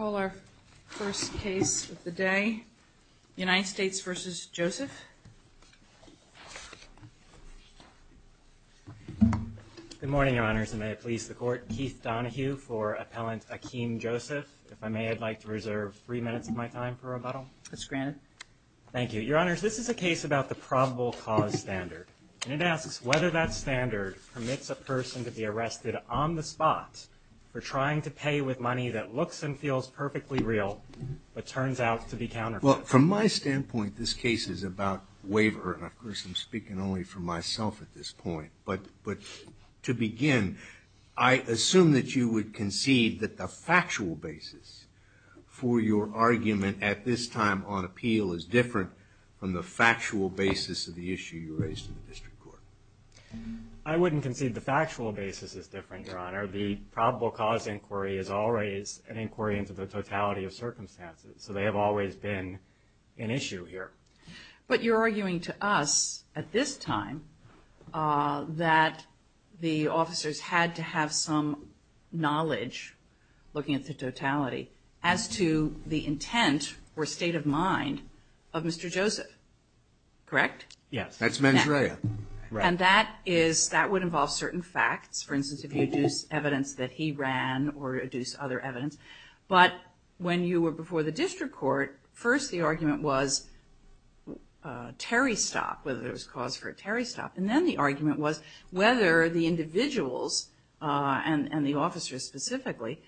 Our first case of the day, United States v. Joseph. Good morning, Your Honors, and may it please the Court, Keith Donohue for Appellant Akeem Joseph. If I may, I'd like to reserve three minutes of my time for rebuttal. It's granted. Thank you. Your Honors, this is a case about the probable cause standard. And it asks whether that standard permits a person to be arrested on the spot for trying to pay with money that looks and feels perfectly real, but turns out to be counterfeit. Well, from my standpoint, this case is about waiver. And of course, I'm speaking only for myself at this point. But to begin, I assume that you would concede that the factual basis for your argument at this time on appeal is different from the factual basis of the issue you raised in the District Court. I wouldn't concede the factual basis is different, Your Honor. The probable cause inquiry is always an inquiry into the totality of circumstances. So they have always been an issue here. But you're arguing to us at this time that the officers had to have some knowledge looking at the totality as to the intent or state of mind of Mr. Joseph. Correct? Yes. That's mens rea. And that would involve certain facts. For instance, if you deduce evidence that he ran or deduce other evidence. But when you were before the District Court, first the argument was terry stock, whether there was cause for a terry stock. And then the argument was whether the individuals and the officers specifically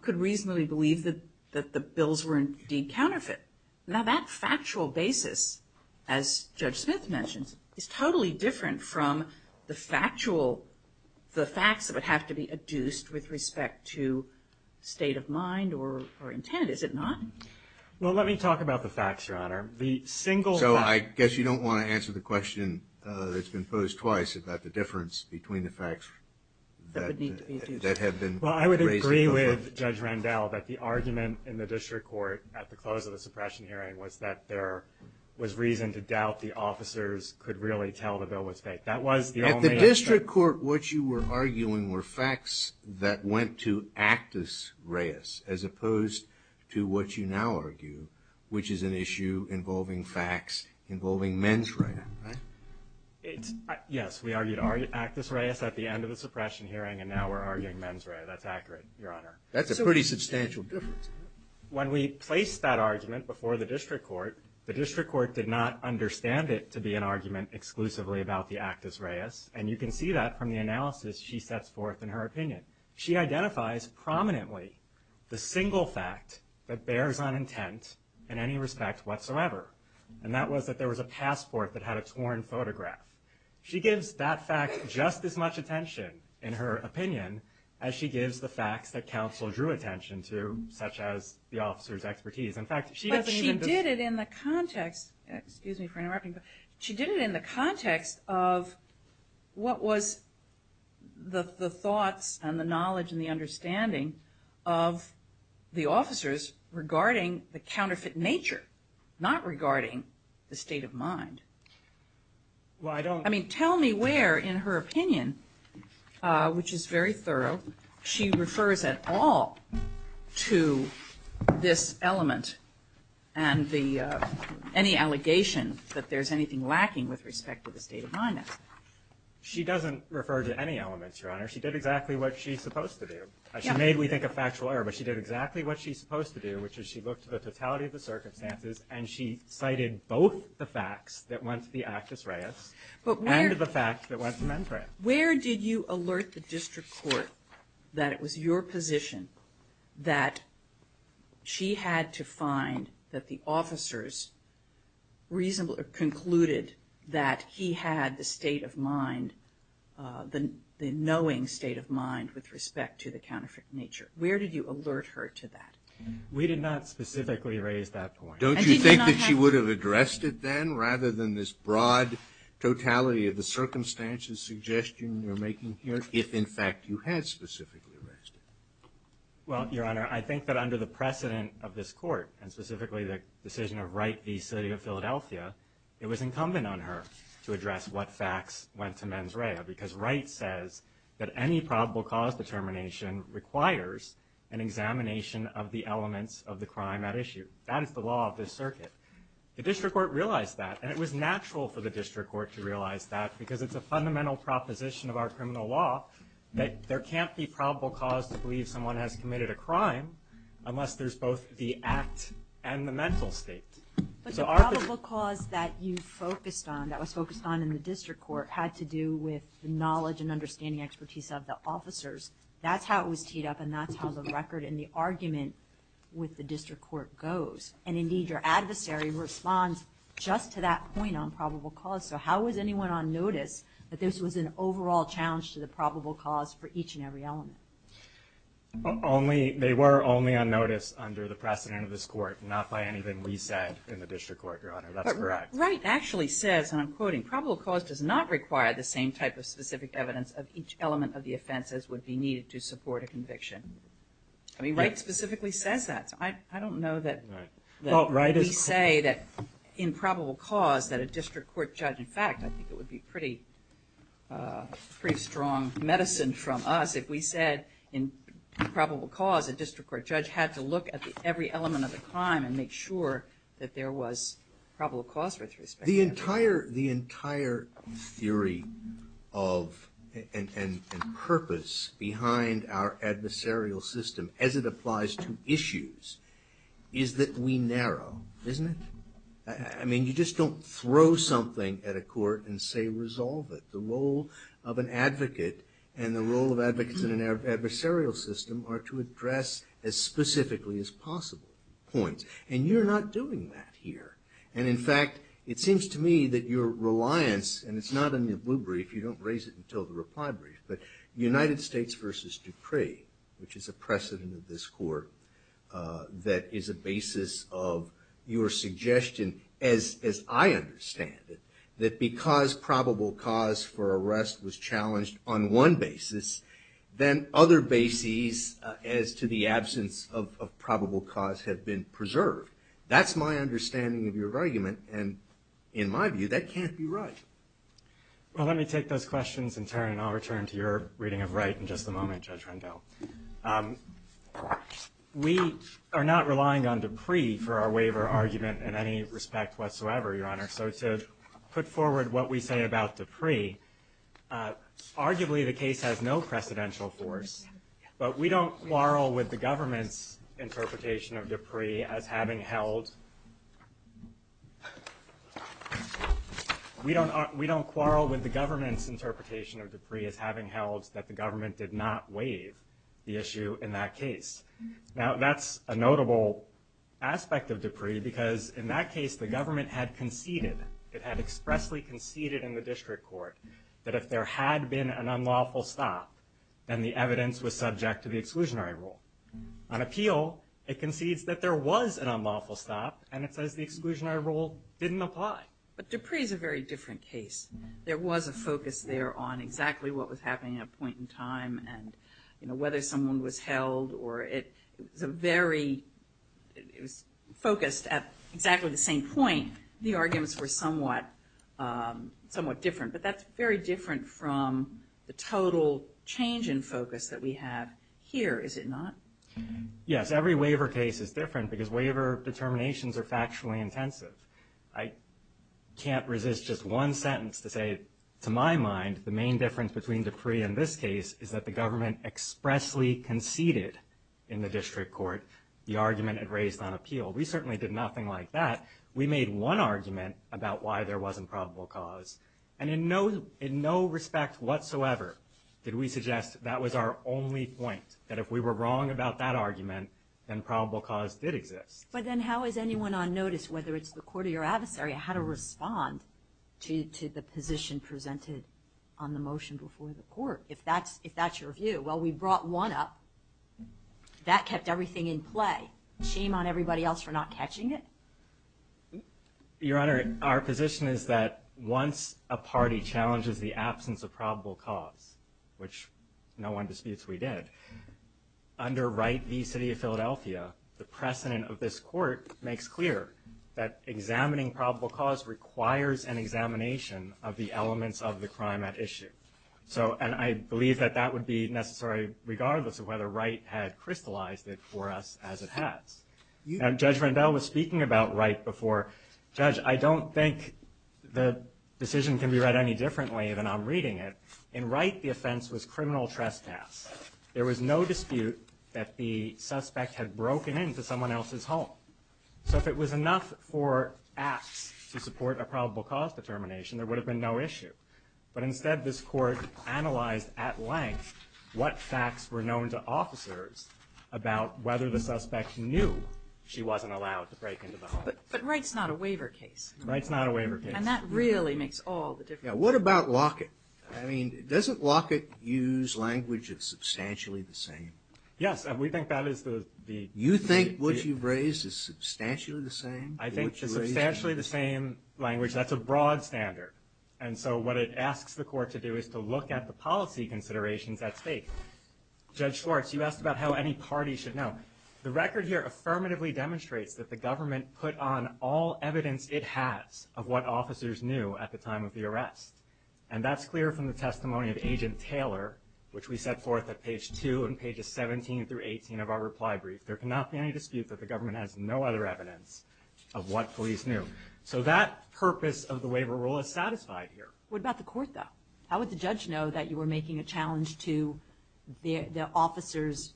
could reasonably believe that the bills were indeed counterfeit. Now that factual basis, as Judge Smith mentions, is totally different from the factual, the facts that would have to be adduced with respect to state of mind or intent, is it not? Well, let me talk about the facts, Your Honor. The single. So I guess you don't want to answer the question that's been posed twice about the difference between the facts that have been. Well, I would agree with Judge Randell that the argument in the District Court at the close of the suppression hearing was that there was reason to doubt the officers could really tell the bill was fake. That was the only. At the District Court, what you were arguing were facts that went to actus reis as opposed to what you now argue, which is an issue involving facts involving mens rea, right? Yes, we argued actus reis at the end of the suppression hearing and now we're arguing mens rea. That's accurate, Your Honor. That's a pretty substantial difference. When we placed that argument before the District Court, the District Court did not understand it to be an argument exclusively about the actus reis and you can see that from the analysis she sets forth in her opinion. She identifies prominently the single fact that bears on intent in any respect whatsoever, and that was that there was a passport that had a torn photograph. She gives that fact just as much attention in her opinion as she gives the facts that as the officer's expertise. But she did it in the context of what was the thoughts and the knowledge and the understanding of the officers regarding the counterfeit nature, not regarding the state of mind. Tell me where in her opinion which is very thorough, she refers at all to this element and any allegation that there's anything lacking with respect to the state of mind. She doesn't refer to any elements, Your Honor. She did exactly what she's supposed to do. She made me think of factual error, but she did exactly what she's supposed to do, which is she looked at the totality of the circumstances and she cited both the facts that went to the actus reis and the facts that went to mens rea. Where did you alert the District Court that it was your position that she had to find that the officers concluded that he had the state of mind, the knowing state of mind with respect to the counterfeit nature? Where did you alert her to that? We did not specifically raise that point. Don't you think that she would have addressed it then rather than this broad totality of the circumstances suggestion you're making here if in fact you had specifically raised it? Well, Your Honor, I think that under the precedent of this Court and specifically the decision of Wright v. City of Philadelphia, it was incumbent on her to address what facts went to mens rea because Wright says that any probable cause determination requires an examination of the elements of the crime at issue. That is the law of this circuit. The District Court realized that and it was natural for the District Court to realize that because it's a fundamental proposition of our criminal law that there can't be probable cause to believe someone has committed a crime unless there's both the act and the mental state. But the probable cause that you focused on, that was focused on in the District Court, had to do with knowledge and understanding expertise of the officers. That's how it was teed up and that's how the record and the argument with the District Court goes. And indeed your adversary responds just to that point on probable cause. So how was anyone on notice that this was an overall challenge to the probable cause for each and every element? They were only on notice under the precedent of this Court, not by anything we said in the District Court, Your Honor. That's correct. But Wright actually says, and I'm quoting, probable cause does not require the same type of specific evidence of each element of the offense as would be needed to support a conviction. I mean, Wright specifically says that. I don't know that we say that in probable cause that a District Court judge, in fact, I think it would be pretty strong medicine from us if we said in probable cause a District Court judge had to look at every element of the crime and make sure that there was probable cause with respect to that. The entire theory of and purpose behind our adversarial system as it applies to issues is that we I mean, you just don't throw something at a court and say resolve it. The role of an advocate and the role of advocates in an adversarial system are to address as specifically as possible points. And you're not doing that here. And in fact, it seems to me that your reliance, and it's not in the blue brief, you don't raise it until the reply brief, but United States v. Dupree, which is a precedent of this Court that is a basis of your suggestion, as I understand it, that because probable cause for arrest was challenged on one basis, then other bases as to the absence of probable cause have been preserved. That's my understanding of your argument, and in my view, that can't be right. Well, let me take those questions in turn, and I'll return to your reading of Wright in just a moment, Judge Rendell. We are not relying on Dupree for our waiver argument in any respect whatsoever, Your Honor. So to put forward what we say about Dupree, arguably the case has no precedential force, but we don't quarrel with the government's interpretation of Dupree as having held We don't quarrel with the government's interpretation of Dupree as having held that the government did not waive the issue in that case. Now, that's a notable aspect of Dupree, because in that case, the government had conceded, it had expressly conceded in the District Court that if there had been an unlawful stop, then the evidence was subject to the exclusionary rule. On appeal, it concedes that there was an unlawful stop, and it says the exclusionary rule didn't apply. But Dupree is a very different case. There was a focus there on exactly what was happening at a point in time, and whether someone was held, or it was a very focused, at exactly the same point, the arguments were somewhat different. But that's very different from the total change in focus that we have here, is it not? Yes, every waiver case is different, because waiver determinations are factually intensive. I can't resist just one mind, the main difference between Dupree and this case is that the government expressly conceded in the District Court the argument it raised on appeal. We certainly did nothing like that. We made one argument about why there wasn't probable cause, and in no respect whatsoever did we suggest that was our only point, that if we were wrong about that argument, then probable cause did exist. But then how is anyone on notice, whether it's the court or your adversary, how to respond to the position presented on the motion before the court, if that's your view? Well, we brought one up. That kept everything in play. Shame on everybody else for not catching it. Your Honor, our position is that once a party challenges the absence of probable cause, which no one disputes we did, under Right v. City of Philadelphia, the precedent of this court makes clear that examining probable cause requires an examination of the elements of the crime at issue. And I believe that that would be necessary regardless of whether Right had crystallized it for us as it has. Judge Rendell was speaking about Right before. Judge, I don't think the decision can be read any differently than I'm reading it. In Right, the offense was criminal trespass. There was no dispute that the suspect had broken into someone else's home. So if it was enough for apps to support a probable cause determination, there would have been no issue. But instead, this court analyzed at length what facts were known to officers about whether the suspect knew she wasn't allowed to break into the home. But Right's not a waiver case. Right's not a waiver case. And that really makes all the difference. What about Lockett? I mean, doesn't Lockett use language that's substantially the same? Yes, we think that is the... You think what you've raised is substantially the same? I think it's substantially the same language. That's a broad standard. And so what it asks the court to do is to look at the policy considerations at stake. Judge Schwartz, you asked about how any party should know. The record here affirmatively demonstrates that the government put on all evidence it has of what officers knew at the time of the arrest. And that's clear from the testimony of Agent Taylor, which we set forth at page 2 and pages 17 through 18 of our reply brief. There cannot be any dispute that the government has no other evidence of what police knew. So that purpose of the waiver rule is satisfied here. What about the court, though? How would the judge know that you were making a challenge to the officer's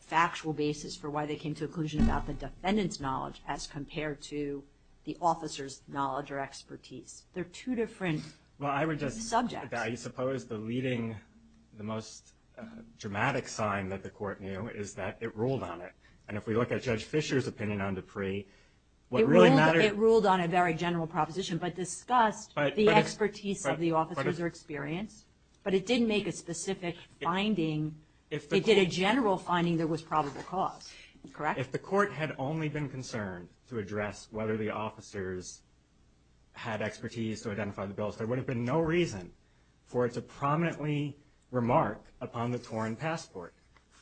factual basis for why they came to a conclusion about the defendant's knowledge as compared to the officer's knowledge or expertise? They're two different subjects. I suppose the leading, the most dramatic sign that the court knew is that it ruled on it. And if we look at Judge Fisher's opinion on Dupree, what really mattered... It ruled on a very general proposition, but discussed the expertise of the officer's experience, but it didn't make a specific finding. It did a general finding that was probable cause, correct? If the court had only been concerned to address whether the officers had expertise to identify the bills, there would have been no reason for it to prominently remark upon the torn passport.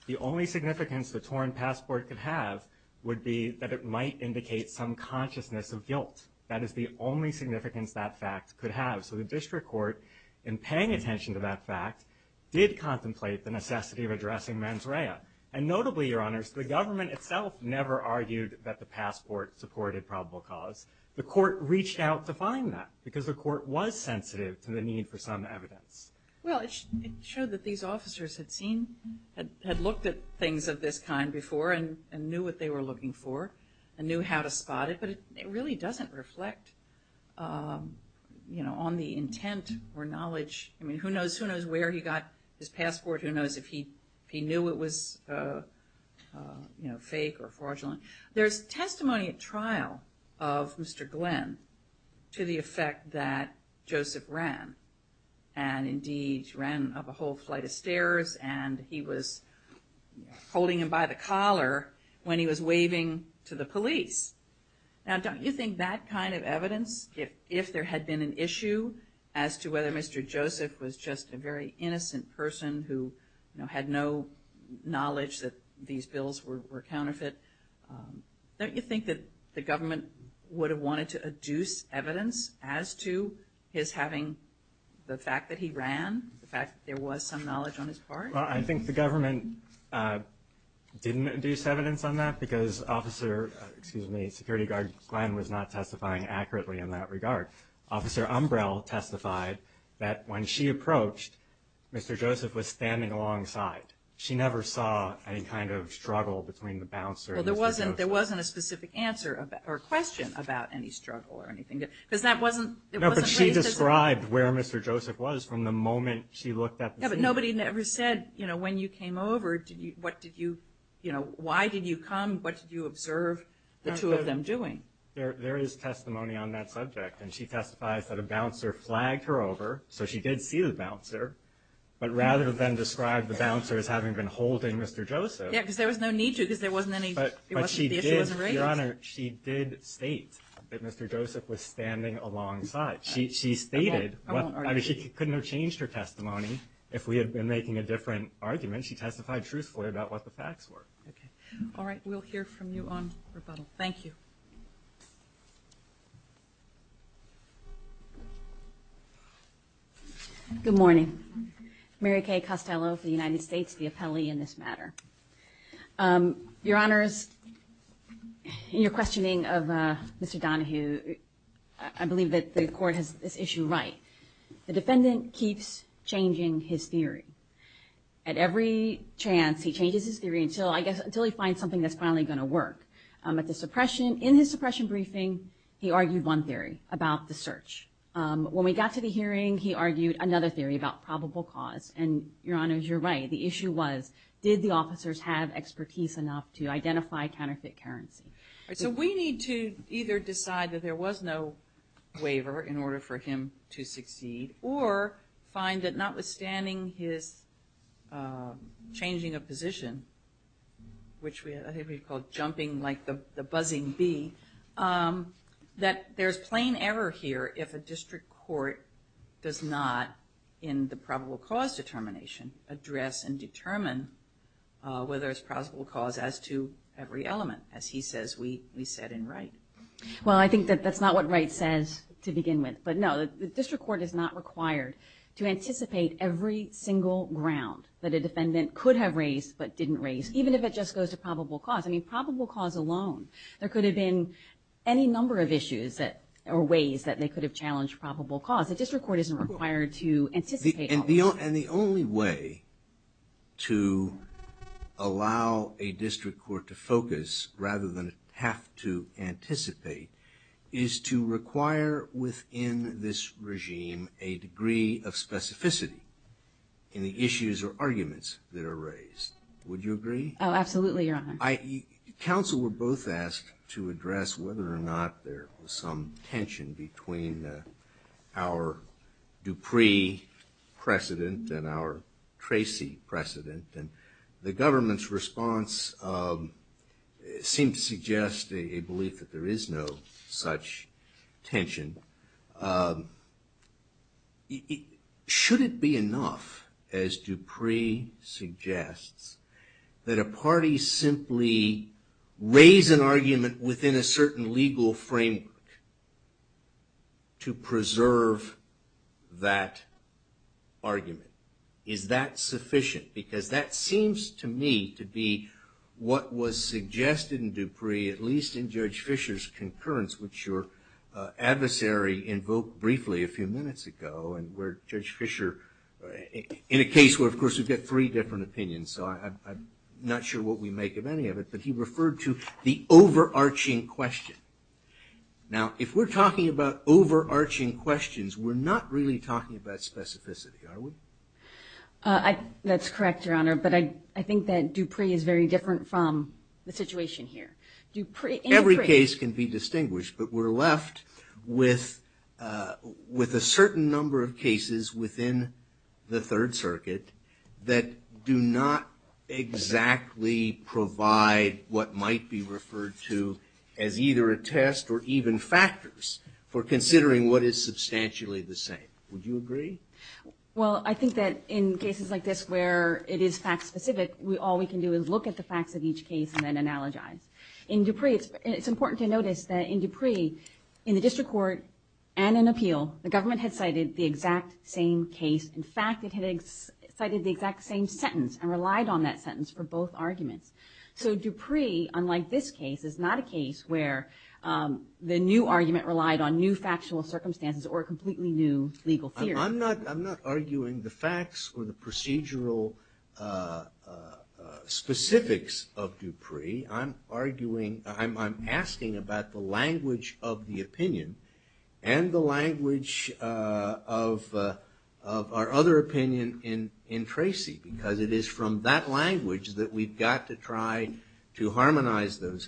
The only significance the torn passport could have would be that it might indicate some consciousness of guilt. That is the only significance that fact could have. So the district court in paying attention to that fact did contemplate the necessity of addressing mens rea. And notably, Your Honors, the government itself never argued that the passport supported probable cause. The court reached out to find that, because the court was sensitive to the need for some evidence. Well, it showed that these officers had looked at things of this kind before and knew what they were looking for and knew how to spot it, but it really doesn't reflect on the intent or knowledge. I mean, who knows where he got his passport? Who knows if he knew it was fake or fraudulent? There's testimony at trial of Mr. Glenn to the effect that he had indeed ran up a whole flight of stairs and he was holding him by the collar when he was waving to the police. Now, don't you think that kind of evidence, if there had been an issue as to whether Mr. Joseph was just a very innocent person who had no knowledge that these bills were counterfeit, don't you think that the government would have wanted to adduce evidence as to his fact that he ran, the fact that there was some knowledge on his part? Well, I think the government didn't induce evidence on that because security guard Glenn was not testifying accurately in that regard. Officer Umbrell testified that when she approached Mr. Joseph was standing alongside. She never saw any kind of struggle between the bouncer and Mr. Joseph. Well, there wasn't a specific answer or question about any struggle or anything, because that wasn't raised. But she described where Mr. Joseph was from the moment she looked at the scene. Yeah, but nobody ever said, you know, when you came over, why did you come, what did you observe the two of them doing? There is testimony on that subject, and she testifies that a bouncer flagged her over, so she did see the bouncer, but rather than describe the bouncer as having been holding Mr. Joseph. Yeah, because there was no need to because there wasn't any it wasn't, the issue wasn't raised. Your Honor, she did state that Mr. Joseph was standing alongside. She stated, I mean, she couldn't have changed her testimony if we had been making a different argument. She testified truthfully about what the facts were. Okay. All right, we'll hear from you on rebuttal. Thank you. Good morning. Mary Kay Costello for the United States, the appellee in this matter. Your Honor, in your questioning of Mr. Donahue, I believe that the Court has this issue right. The defendant keeps changing his theory. At every chance, he changes his theory until, I guess, until he finds something that's finally going to work. At the suppression, in his suppression briefing, he argued one theory about the search. When we got to the hearing, he argued another theory about probable cause, and Your Honor, you're right. The issue was, did the officers have expertise enough to identify counterfeit currency? So we need to either decide that there was no waiver in order for him to succeed, or find that notwithstanding his changing of position, which I think we've called jumping like the buzzing bee, that there's plain error here if a district court does not, in the probable cause determination, address and determine whether there's probable cause as to every element, as he says we said in Wright. Well, I think that that's not what Wright says to begin with, but no. The district court is not required to anticipate every single ground that a defendant could have raised but didn't raise, even if it just goes to probable cause. I mean, probable cause alone, there could have been any number of issues or ways that they could have challenged probable cause. The district court isn't required to anticipate all of that. And the only way to allow a district court to focus rather than have to anticipate is to require within this regime a degree of specificity in the issues or arguments that are raised. Would you agree? Oh, absolutely, Your Honor. Counsel were both asked to address whether or not there was some tension between our Dupree precedent and our Tracy precedent. The government's response seemed to suggest a belief that there is no such tension. Should it be enough, as Dupree suggests, that a party simply raise an argument within a certain legal framework to preserve that argument? Is that sufficient? Because that seems to me to be what was suggested in Dupree, at least in Judge Fischer's concurrence, which your adversary invoked briefly a few minutes ago, and where Judge Fischer, in a case where, of course, we've got three different opinions, so I'm not sure what we make of any of it, but he referred to the overarching question. Now, if we're talking about overarching questions, we're not really talking about specificity, are we? That's correct, Your Honor, but I think that Dupree is very different from the situation here. Every case can be distinguished, but we're left with a certain number of cases within the Third Circuit that do not exactly provide what might be referred to as either a case for considering what is substantially the same. Would you agree? Well, I think that in cases like this where it is fact-specific, all we can do is look at the facts of each case and then analogize. In Dupree, it's important to notice that in Dupree, in the district court and in appeal, the government had cited the exact same case. In fact, it had cited the exact same sentence and relied on that sentence for both arguments. So Dupree, unlike this case, is not a case where the new argument relied on new factual circumstances or a completely new legal theory. I'm not arguing the facts or the procedural specifics of Dupree. I'm arguing, I'm asking about the language of the opinion and the language of our other opinion in Tracy, because it is from that language that we've got to try to harmonize those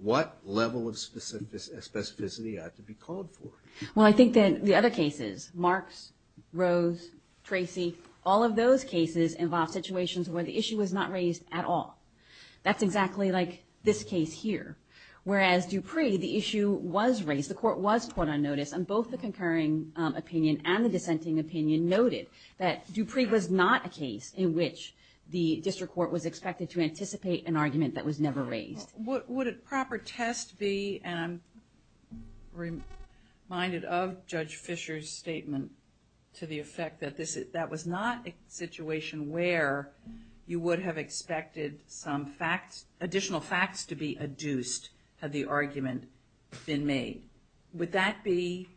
what level of specificity ought to be called for. Well, I think that the other cases, Marks, Rose, Tracy, all of those cases involve situations where the issue was not raised at all. That's exactly like this case here. Whereas Dupree, the issue was raised, the court was caught on notice, and both the concurring opinion and the dissenting opinion noted that Dupree was not a case in which the district court was expected to anticipate an argument that was never raised. Would a proper test be, and I'm reminded of Judge Fisher's statement to the effect that that was not a situation where you would have expected some facts, additional facts to be adduced had the argument been made. Would that be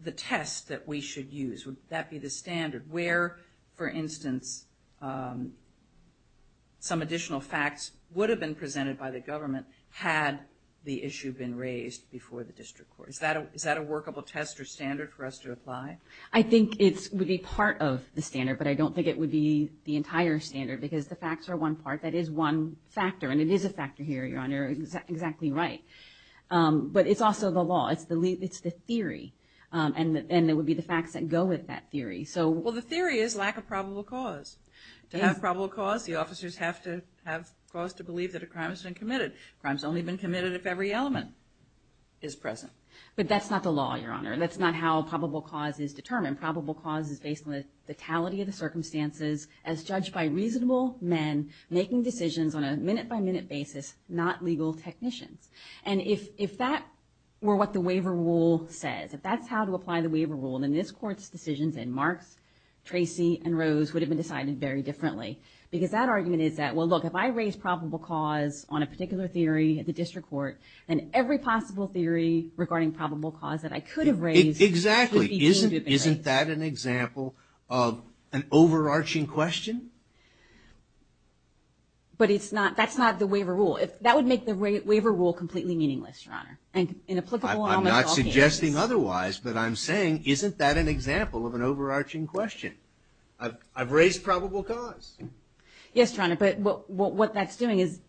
the test that we should use? Would that be the standard? Where, for instance, some additional facts would have been presented by the government had the issue been raised before the district court. Is that a workable test or standard for us to apply? I think it would be part of the standard, but I don't think it would be the entire standard, because the facts are one part. That is one factor, and it is a factor here, Your Honor. You're exactly right. But it's also the law. It's the theory, and it would be the facts that go with that theory. Well, the theory is lack of probable cause. To have probable cause, the officers have to have cause to believe that a crime has been committed. Crimes only have been committed if every element is present. But that's not the law, Your Honor. That's not how probable cause is determined. Probable cause is based on the totality of the circumstances as judged by reasonable men making decisions on a minute-by-minute basis, not legal technicians. If that were what the waiver rule says, if that's how to apply the facts, Tracy and Rose would have been decided very differently, because that argument is that, well, look, if I raise probable cause on a particular theory at the district court, then every possible theory regarding probable cause that I could have raised would be deemed to have been raised. Exactly. Isn't that an example of an overarching question? But that's not the waiver rule. That would make the waiver rule completely meaningless, Your Honor. I'm not suggesting otherwise, but I'm saying isn't that an example of an overarching question? I've raised probable cause. Yes, Your Honor, but what that's doing is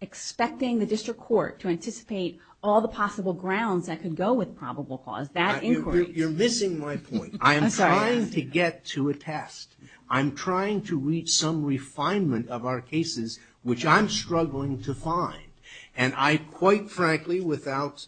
expecting the district court to anticipate all the possible grounds that could go with probable cause. You're missing my point. I'm trying to get to a test. I'm trying to reach some refinement of our cases, which I'm struggling to find. And I, quite frankly, without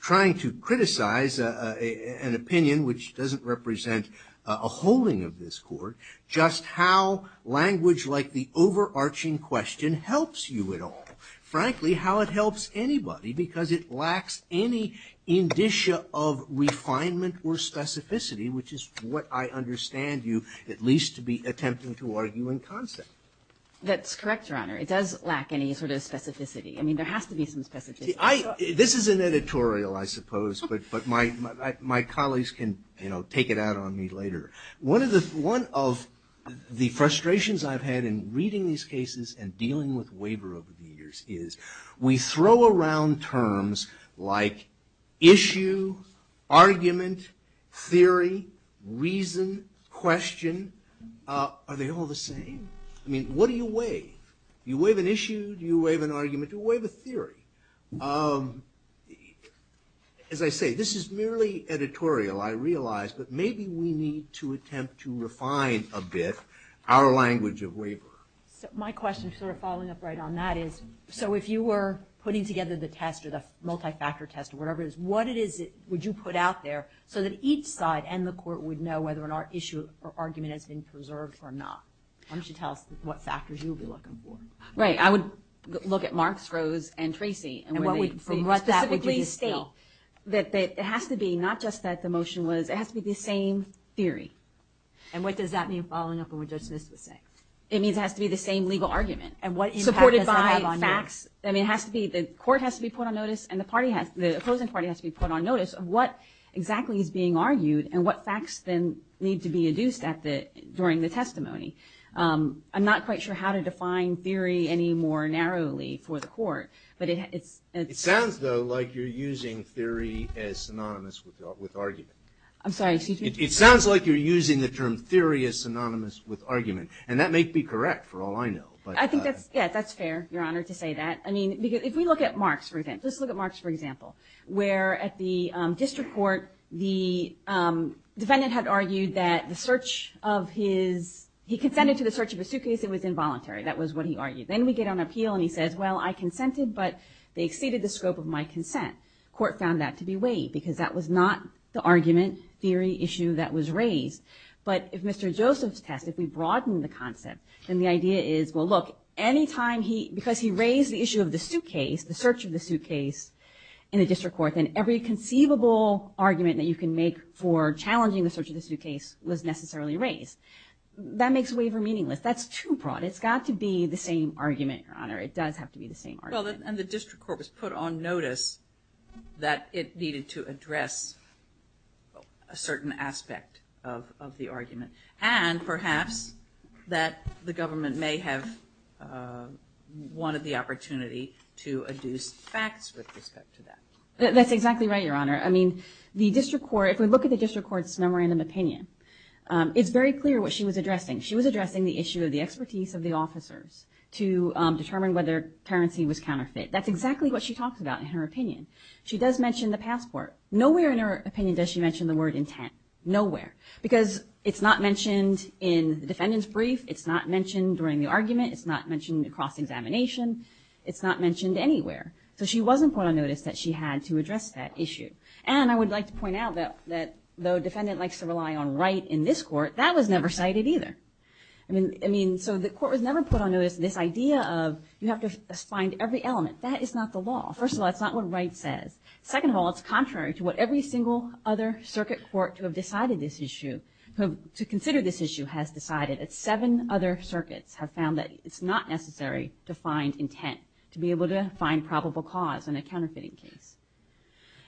trying to criticize an opinion which doesn't represent a holding of this court, just how language like the overarching question helps you at all. Frankly, how it helps anybody, because it lacks any indicia of refinement or specificity, which is what I understand you at least to be attempting to argue in concept. That's correct, Your Honor. It does lack any sort of specificity. This is an editorial, I suppose, but my colleagues can take it out on me later. One of the frustrations I've had in reading these cases and dealing with waiver over the years is we throw around terms like issue, argument, theory, reason, question. Are they all the same? I mean, what do you waive? Do you waive an issue? Do you waive an argument? Do you waive a theory? As I say, this is merely editorial, I realize, but maybe we need to attempt to refine a bit our language of waiver. My question, sort of following up right on that is, so if you were putting together the test or the multi-factor test or whatever it is, what it is would you put out there so that each side and the court would know whether an issue or argument has been preserved or not? Why don't you tell us what factors you would be looking for? Right, I would look at Marks, Rose, and Tracy and specifically state that it has to be, not just that the motion was, it has to be the same theory. And what does that mean, following up on what Judge Smith was saying? It means it has to be the same legal argument. Supported by facts. I mean, the court has to be put on notice and the opposing party has to be put on notice of what exactly is being argued and what facts then need to be induced during the testimony. I'm not quite sure how to define theory any more narrowly for the court. It sounds though like you're using theory as synonymous with argument. I'm sorry, excuse me? It sounds like you're using the term theory as synonymous with argument, and that may be correct for all I know. I think that's fair, Your Honor, to say that. If we look at Marks for example, where at the district court the defendant had argued that the search of his, he consented to the search of his suitcase, it was involuntary. That was what he argued. Then we get on appeal and he says, well, I consented, but they exceeded the scope of my consent. The court found that to be waived because that was not the argument, theory, issue that was raised. But if Mr. Joseph's test, if we broaden the concept, then the idea is, well look, any time he, because he raised the issue of the suitcase, the search of the suitcase in the district court, then every conceivable argument that you can make for challenging the search of the suitcase was necessarily raised. That makes waiver meaningless. That's too broad. It's got to be the same argument, Your Honor. It does have to be the same argument. And the district court was put on notice that it needed to address a certain aspect of the argument, and perhaps that the government may have wanted the opportunity to adduce facts with respect to that. That's exactly right, Your Honor. I mean, the district court, if we look at the district court's memorandum opinion, it's very clear what she was addressing. She was addressing the issue of the expertise of the officers to determine whether currency was counterfeit. That's exactly what she talks about in her opinion. She does mention the passport. Nowhere in her opinion does she mention the word intent. Nowhere. Because it's not mentioned in the defendant's brief. It's not mentioned during the argument. It's not mentioned across examination. It's not mentioned anywhere. So she wasn't put on notice that she had to address that issue. And I would like to point out that though the defendant likes to rely on Wright in this court, that was never cited either. I mean, so the court was never put on notice this idea of you have to find every element. That is not the law. First of all, that's not what Wright says. Second of all, it's contrary to what every single other circuit court to have decided this issue, to consider this issue, has decided. Seven other circuits have found that it's not necessary to find intent to be able to address a counterfeiting case.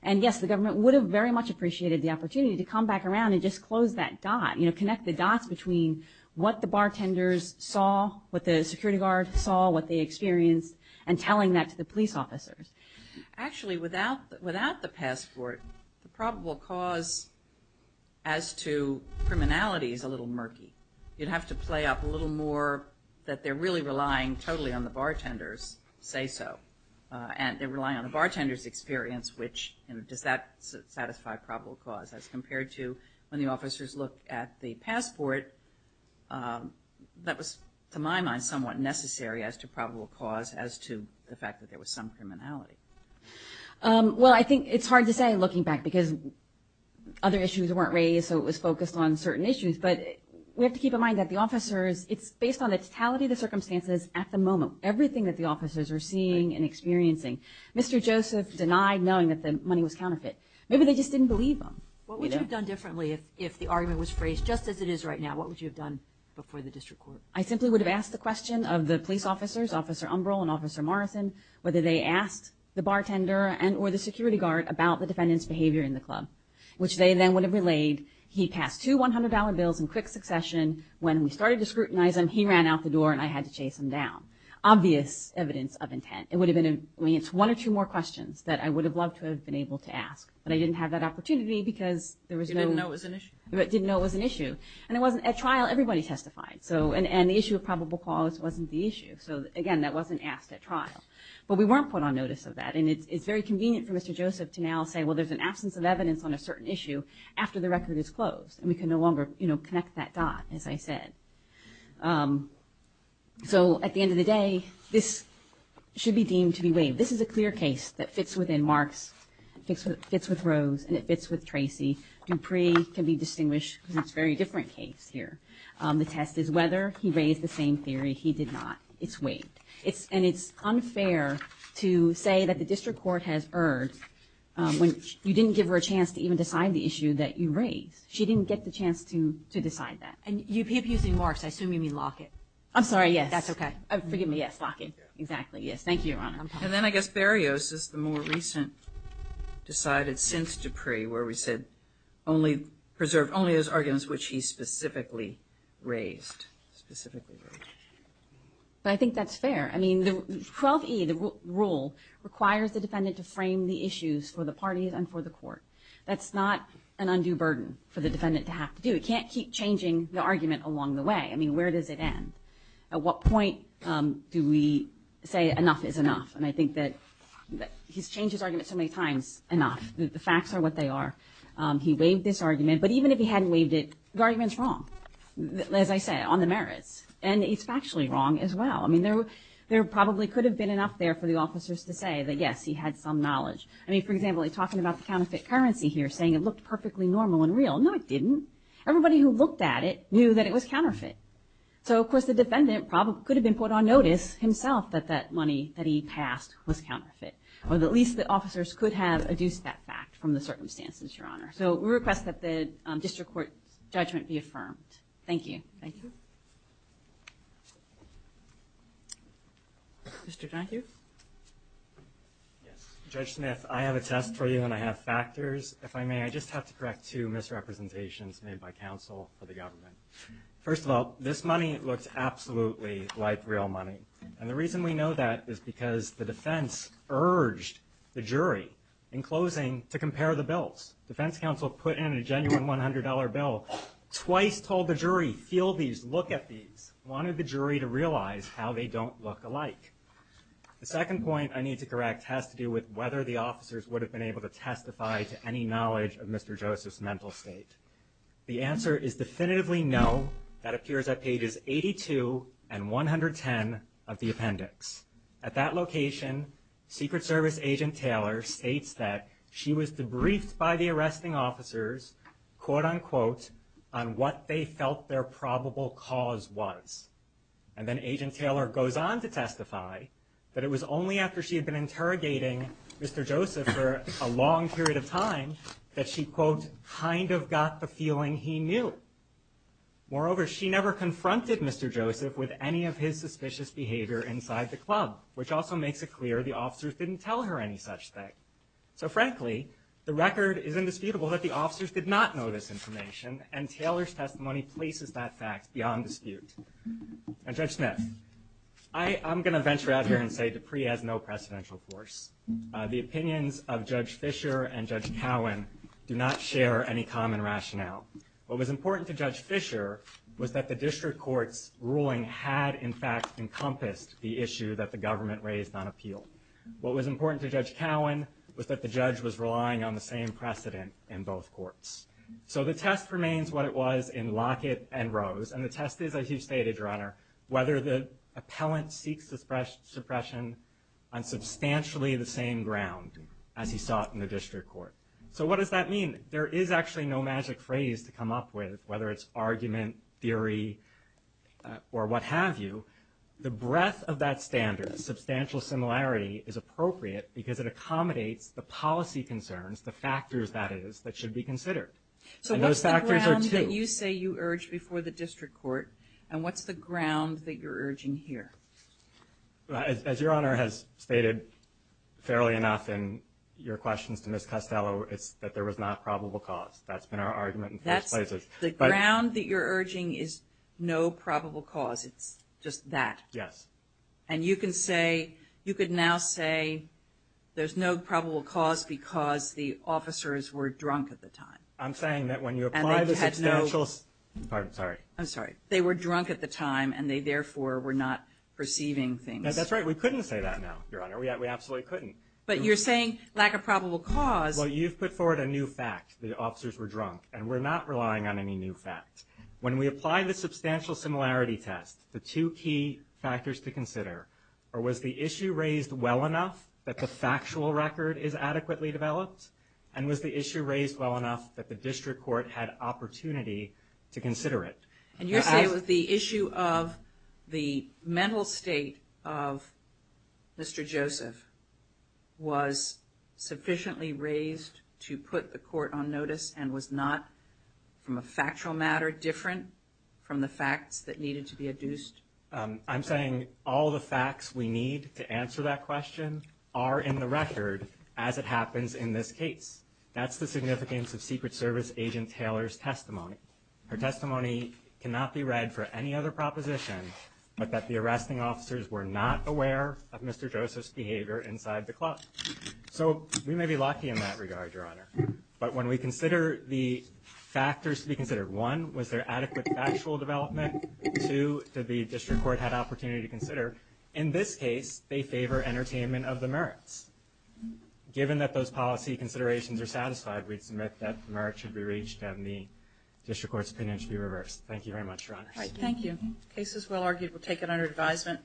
And yes, the government would have very much appreciated the opportunity to come back around and just close that dot. You know, connect the dots between what the bartenders saw, what the security guard saw, what they experienced, and telling that to the police officers. Actually, without the passport, the probable cause as to criminality is a little murky. You'd have to play up a little more that they're really relying totally on the bartenders say so. And they're relying on the bartender's experience, which does that satisfy probable cause as compared to when the officers look at the passport, that was to my mind somewhat necessary as to probable cause as to the fact that there was some criminality. Well, I think it's hard to say looking back because other issues weren't raised so it was focused on certain issues but we have to keep in mind that the officers, it's based on the totality of the officers were seeing and experiencing. Mr. Joseph denied knowing that the money was counterfeit. Maybe they just didn't believe him. What would you have done differently if the argument was phrased just as it is right now, what would you have done before the district court? I simply would have asked the question of the police officers, Officer Umbrall and Officer Morrison whether they asked the bartender and or the security guard about the defendant's behavior in the club. Which they then would have relayed, he passed two $100 bills in quick succession. When we started to scrutinize him, he ran out the door and I had to chase him down. Obvious evidence of intent. It would have been one or two more questions that I would have loved to have been able to ask but I didn't have that opportunity because there was no... You didn't know it was an issue? I didn't know it was an issue. At trial everybody testified and the issue of probable cause wasn't the issue. Again, that wasn't asked at trial. But we weren't put on notice of that and it's very convenient for Mr. Joseph to now say well there's an absence of evidence on a certain issue after the record is closed and we can no longer connect that dot as I said. So at the end of the day, this should be deemed to be waived. This is a clear case that fits within Mark's and fits with Rose and it fits with Tracy. Dupree can be distinguished because it's a very different case here. The test is whether he raised the same theory. He did not. It's waived. And it's unfair to say that the district court has erred when you didn't give her a chance to even decide the issue that you raised. She didn't get the chance to decide the issue that you raised. And then I guess Berrios is the more recent decided since Dupree where we said only preserve only those arguments which he specifically raised. But I think that's fair. I mean 12E, the rule, requires the defendant to frame the issues for the parties and for the court. That's not an undue burden for the defendant to have to do. It can't keep changing the argument along the way. I mean where does it end? At what point do we say enough is enough? And I think that he's changed his argument so many times. Enough. The facts are what they are. He waived this argument. But even if he hadn't waived it, the argument's wrong. As I said, on the merits. And it's factually wrong as well. I mean there probably could have been enough there for the officers to say that yes, he had some knowledge. I mean for example, he's talking about the counterfeit currency here saying it looked perfectly normal and real. No it didn't. Everybody who looked at it knew that it was counterfeit. So of course the defendant could have been put on notice himself that that money that he passed was counterfeit. Or at least the officers could have adduced that fact from the circumstances, Your Honor. So we request that the district court's judgment be affirmed. Thank you. Mr. Donohue? Judge Smith, I have a test for you and I have two misrepresentations made by counsel for the government. First of all, this money looks absolutely like real money. And the reason we know that is because the defense urged the jury in closing to compare the bills. Defense counsel put in a genuine $100 bill. Twice told the jury, feel these, look at these. Wanted the jury to realize how they don't look alike. The second point I need to correct has to do with whether the officers would have been able to testify to any knowledge of Mr. Joseph's mental state. The answer is definitively no. That appears at pages 82 and 110 of the appendix. At that location, Secret Service agent Taylor states that she was debriefed by the arresting officers, quote unquote, on what they felt their probable cause was. And then agent Taylor goes on to testify that it was only after she had been interrogating Mr. Joseph for a long period of time that she, quote, kind of got the feeling he knew. Moreover, she never confronted Mr. Joseph with any of his suspicious behavior inside the club, which also makes it clear the officers didn't tell her any such thing. So frankly, the record is indisputable that the officers did not know this information and Taylor's testimony places that fact beyond dispute. And Judge Smith, I'm going to venture out here and say that the Dupree has no precedential course. The opinions of Judge Fischer and Judge Cowan do not share any common rationale. What was important to Judge Fischer was that the district court's ruling had in fact encompassed the issue that the government raised on appeal. What was important to Judge Cowan was that the judge was relying on the same precedent in both courts. So the test remains what it was in Lockett and Rose. And the test is, as you stated, Your Honor, whether the judge was relying on substantially the same ground as he sought in the district court. So what does that mean? There is actually no magic phrase to come up with, whether it's argument, theory, or what have you. The breadth of that standard, substantial similarity, is appropriate because it accommodates the policy concerns, the factors, that is, that should be considered. And those factors are two. So what's the ground that you say you urged before the district court, and what's the ground that you're urging here? As Your Honor has stated fairly enough in your questions to Ms. Costello, it's that there was not probable cause. That's been our argument in both places. The ground that you're urging is no probable cause. It's just that. Yes. And you can say, you could now say there's no probable cause because the officers were drunk at the time. I'm saying that when you apply the substantial... And therefore, we're not perceiving things. That's right. We couldn't say that now, Your Honor. We absolutely couldn't. But you're saying lack of probable cause... Well, you've put forward a new fact. The officers were drunk. And we're not relying on any new fact. When we apply the substantial similarity test, the two key factors to consider are, was the issue raised well enough that the factual record is adequately developed? And was the issue raised well enough that the district court had opportunity to consider it? And you're saying that the issue of the mental state of Mr. Joseph was sufficiently raised to put the court on notice and was not from a factual matter different from the facts that needed to be adduced? I'm saying all the facts we need to answer that question are in the record as it happens in this case. That's the significance of Secret Service Agent Taylor's testimony. Her testimony cannot be read for any other proposition but that the arresting officers were not aware of Mr. Joseph's behavior inside the club. So we may be lucky in that regard, Your Honor. But when we consider the factors to be considered, one, was there adequate factual development? Two, did the district court have opportunity to consider? In this case, they favor entertainment of the merits. Given that those policy considerations are satisfied, we'd submit that the merits should be reached and the district court's opinion should be reversed. Thank you very much, Your Honor. Thank you. The case is well argued. We'll take it under advisement.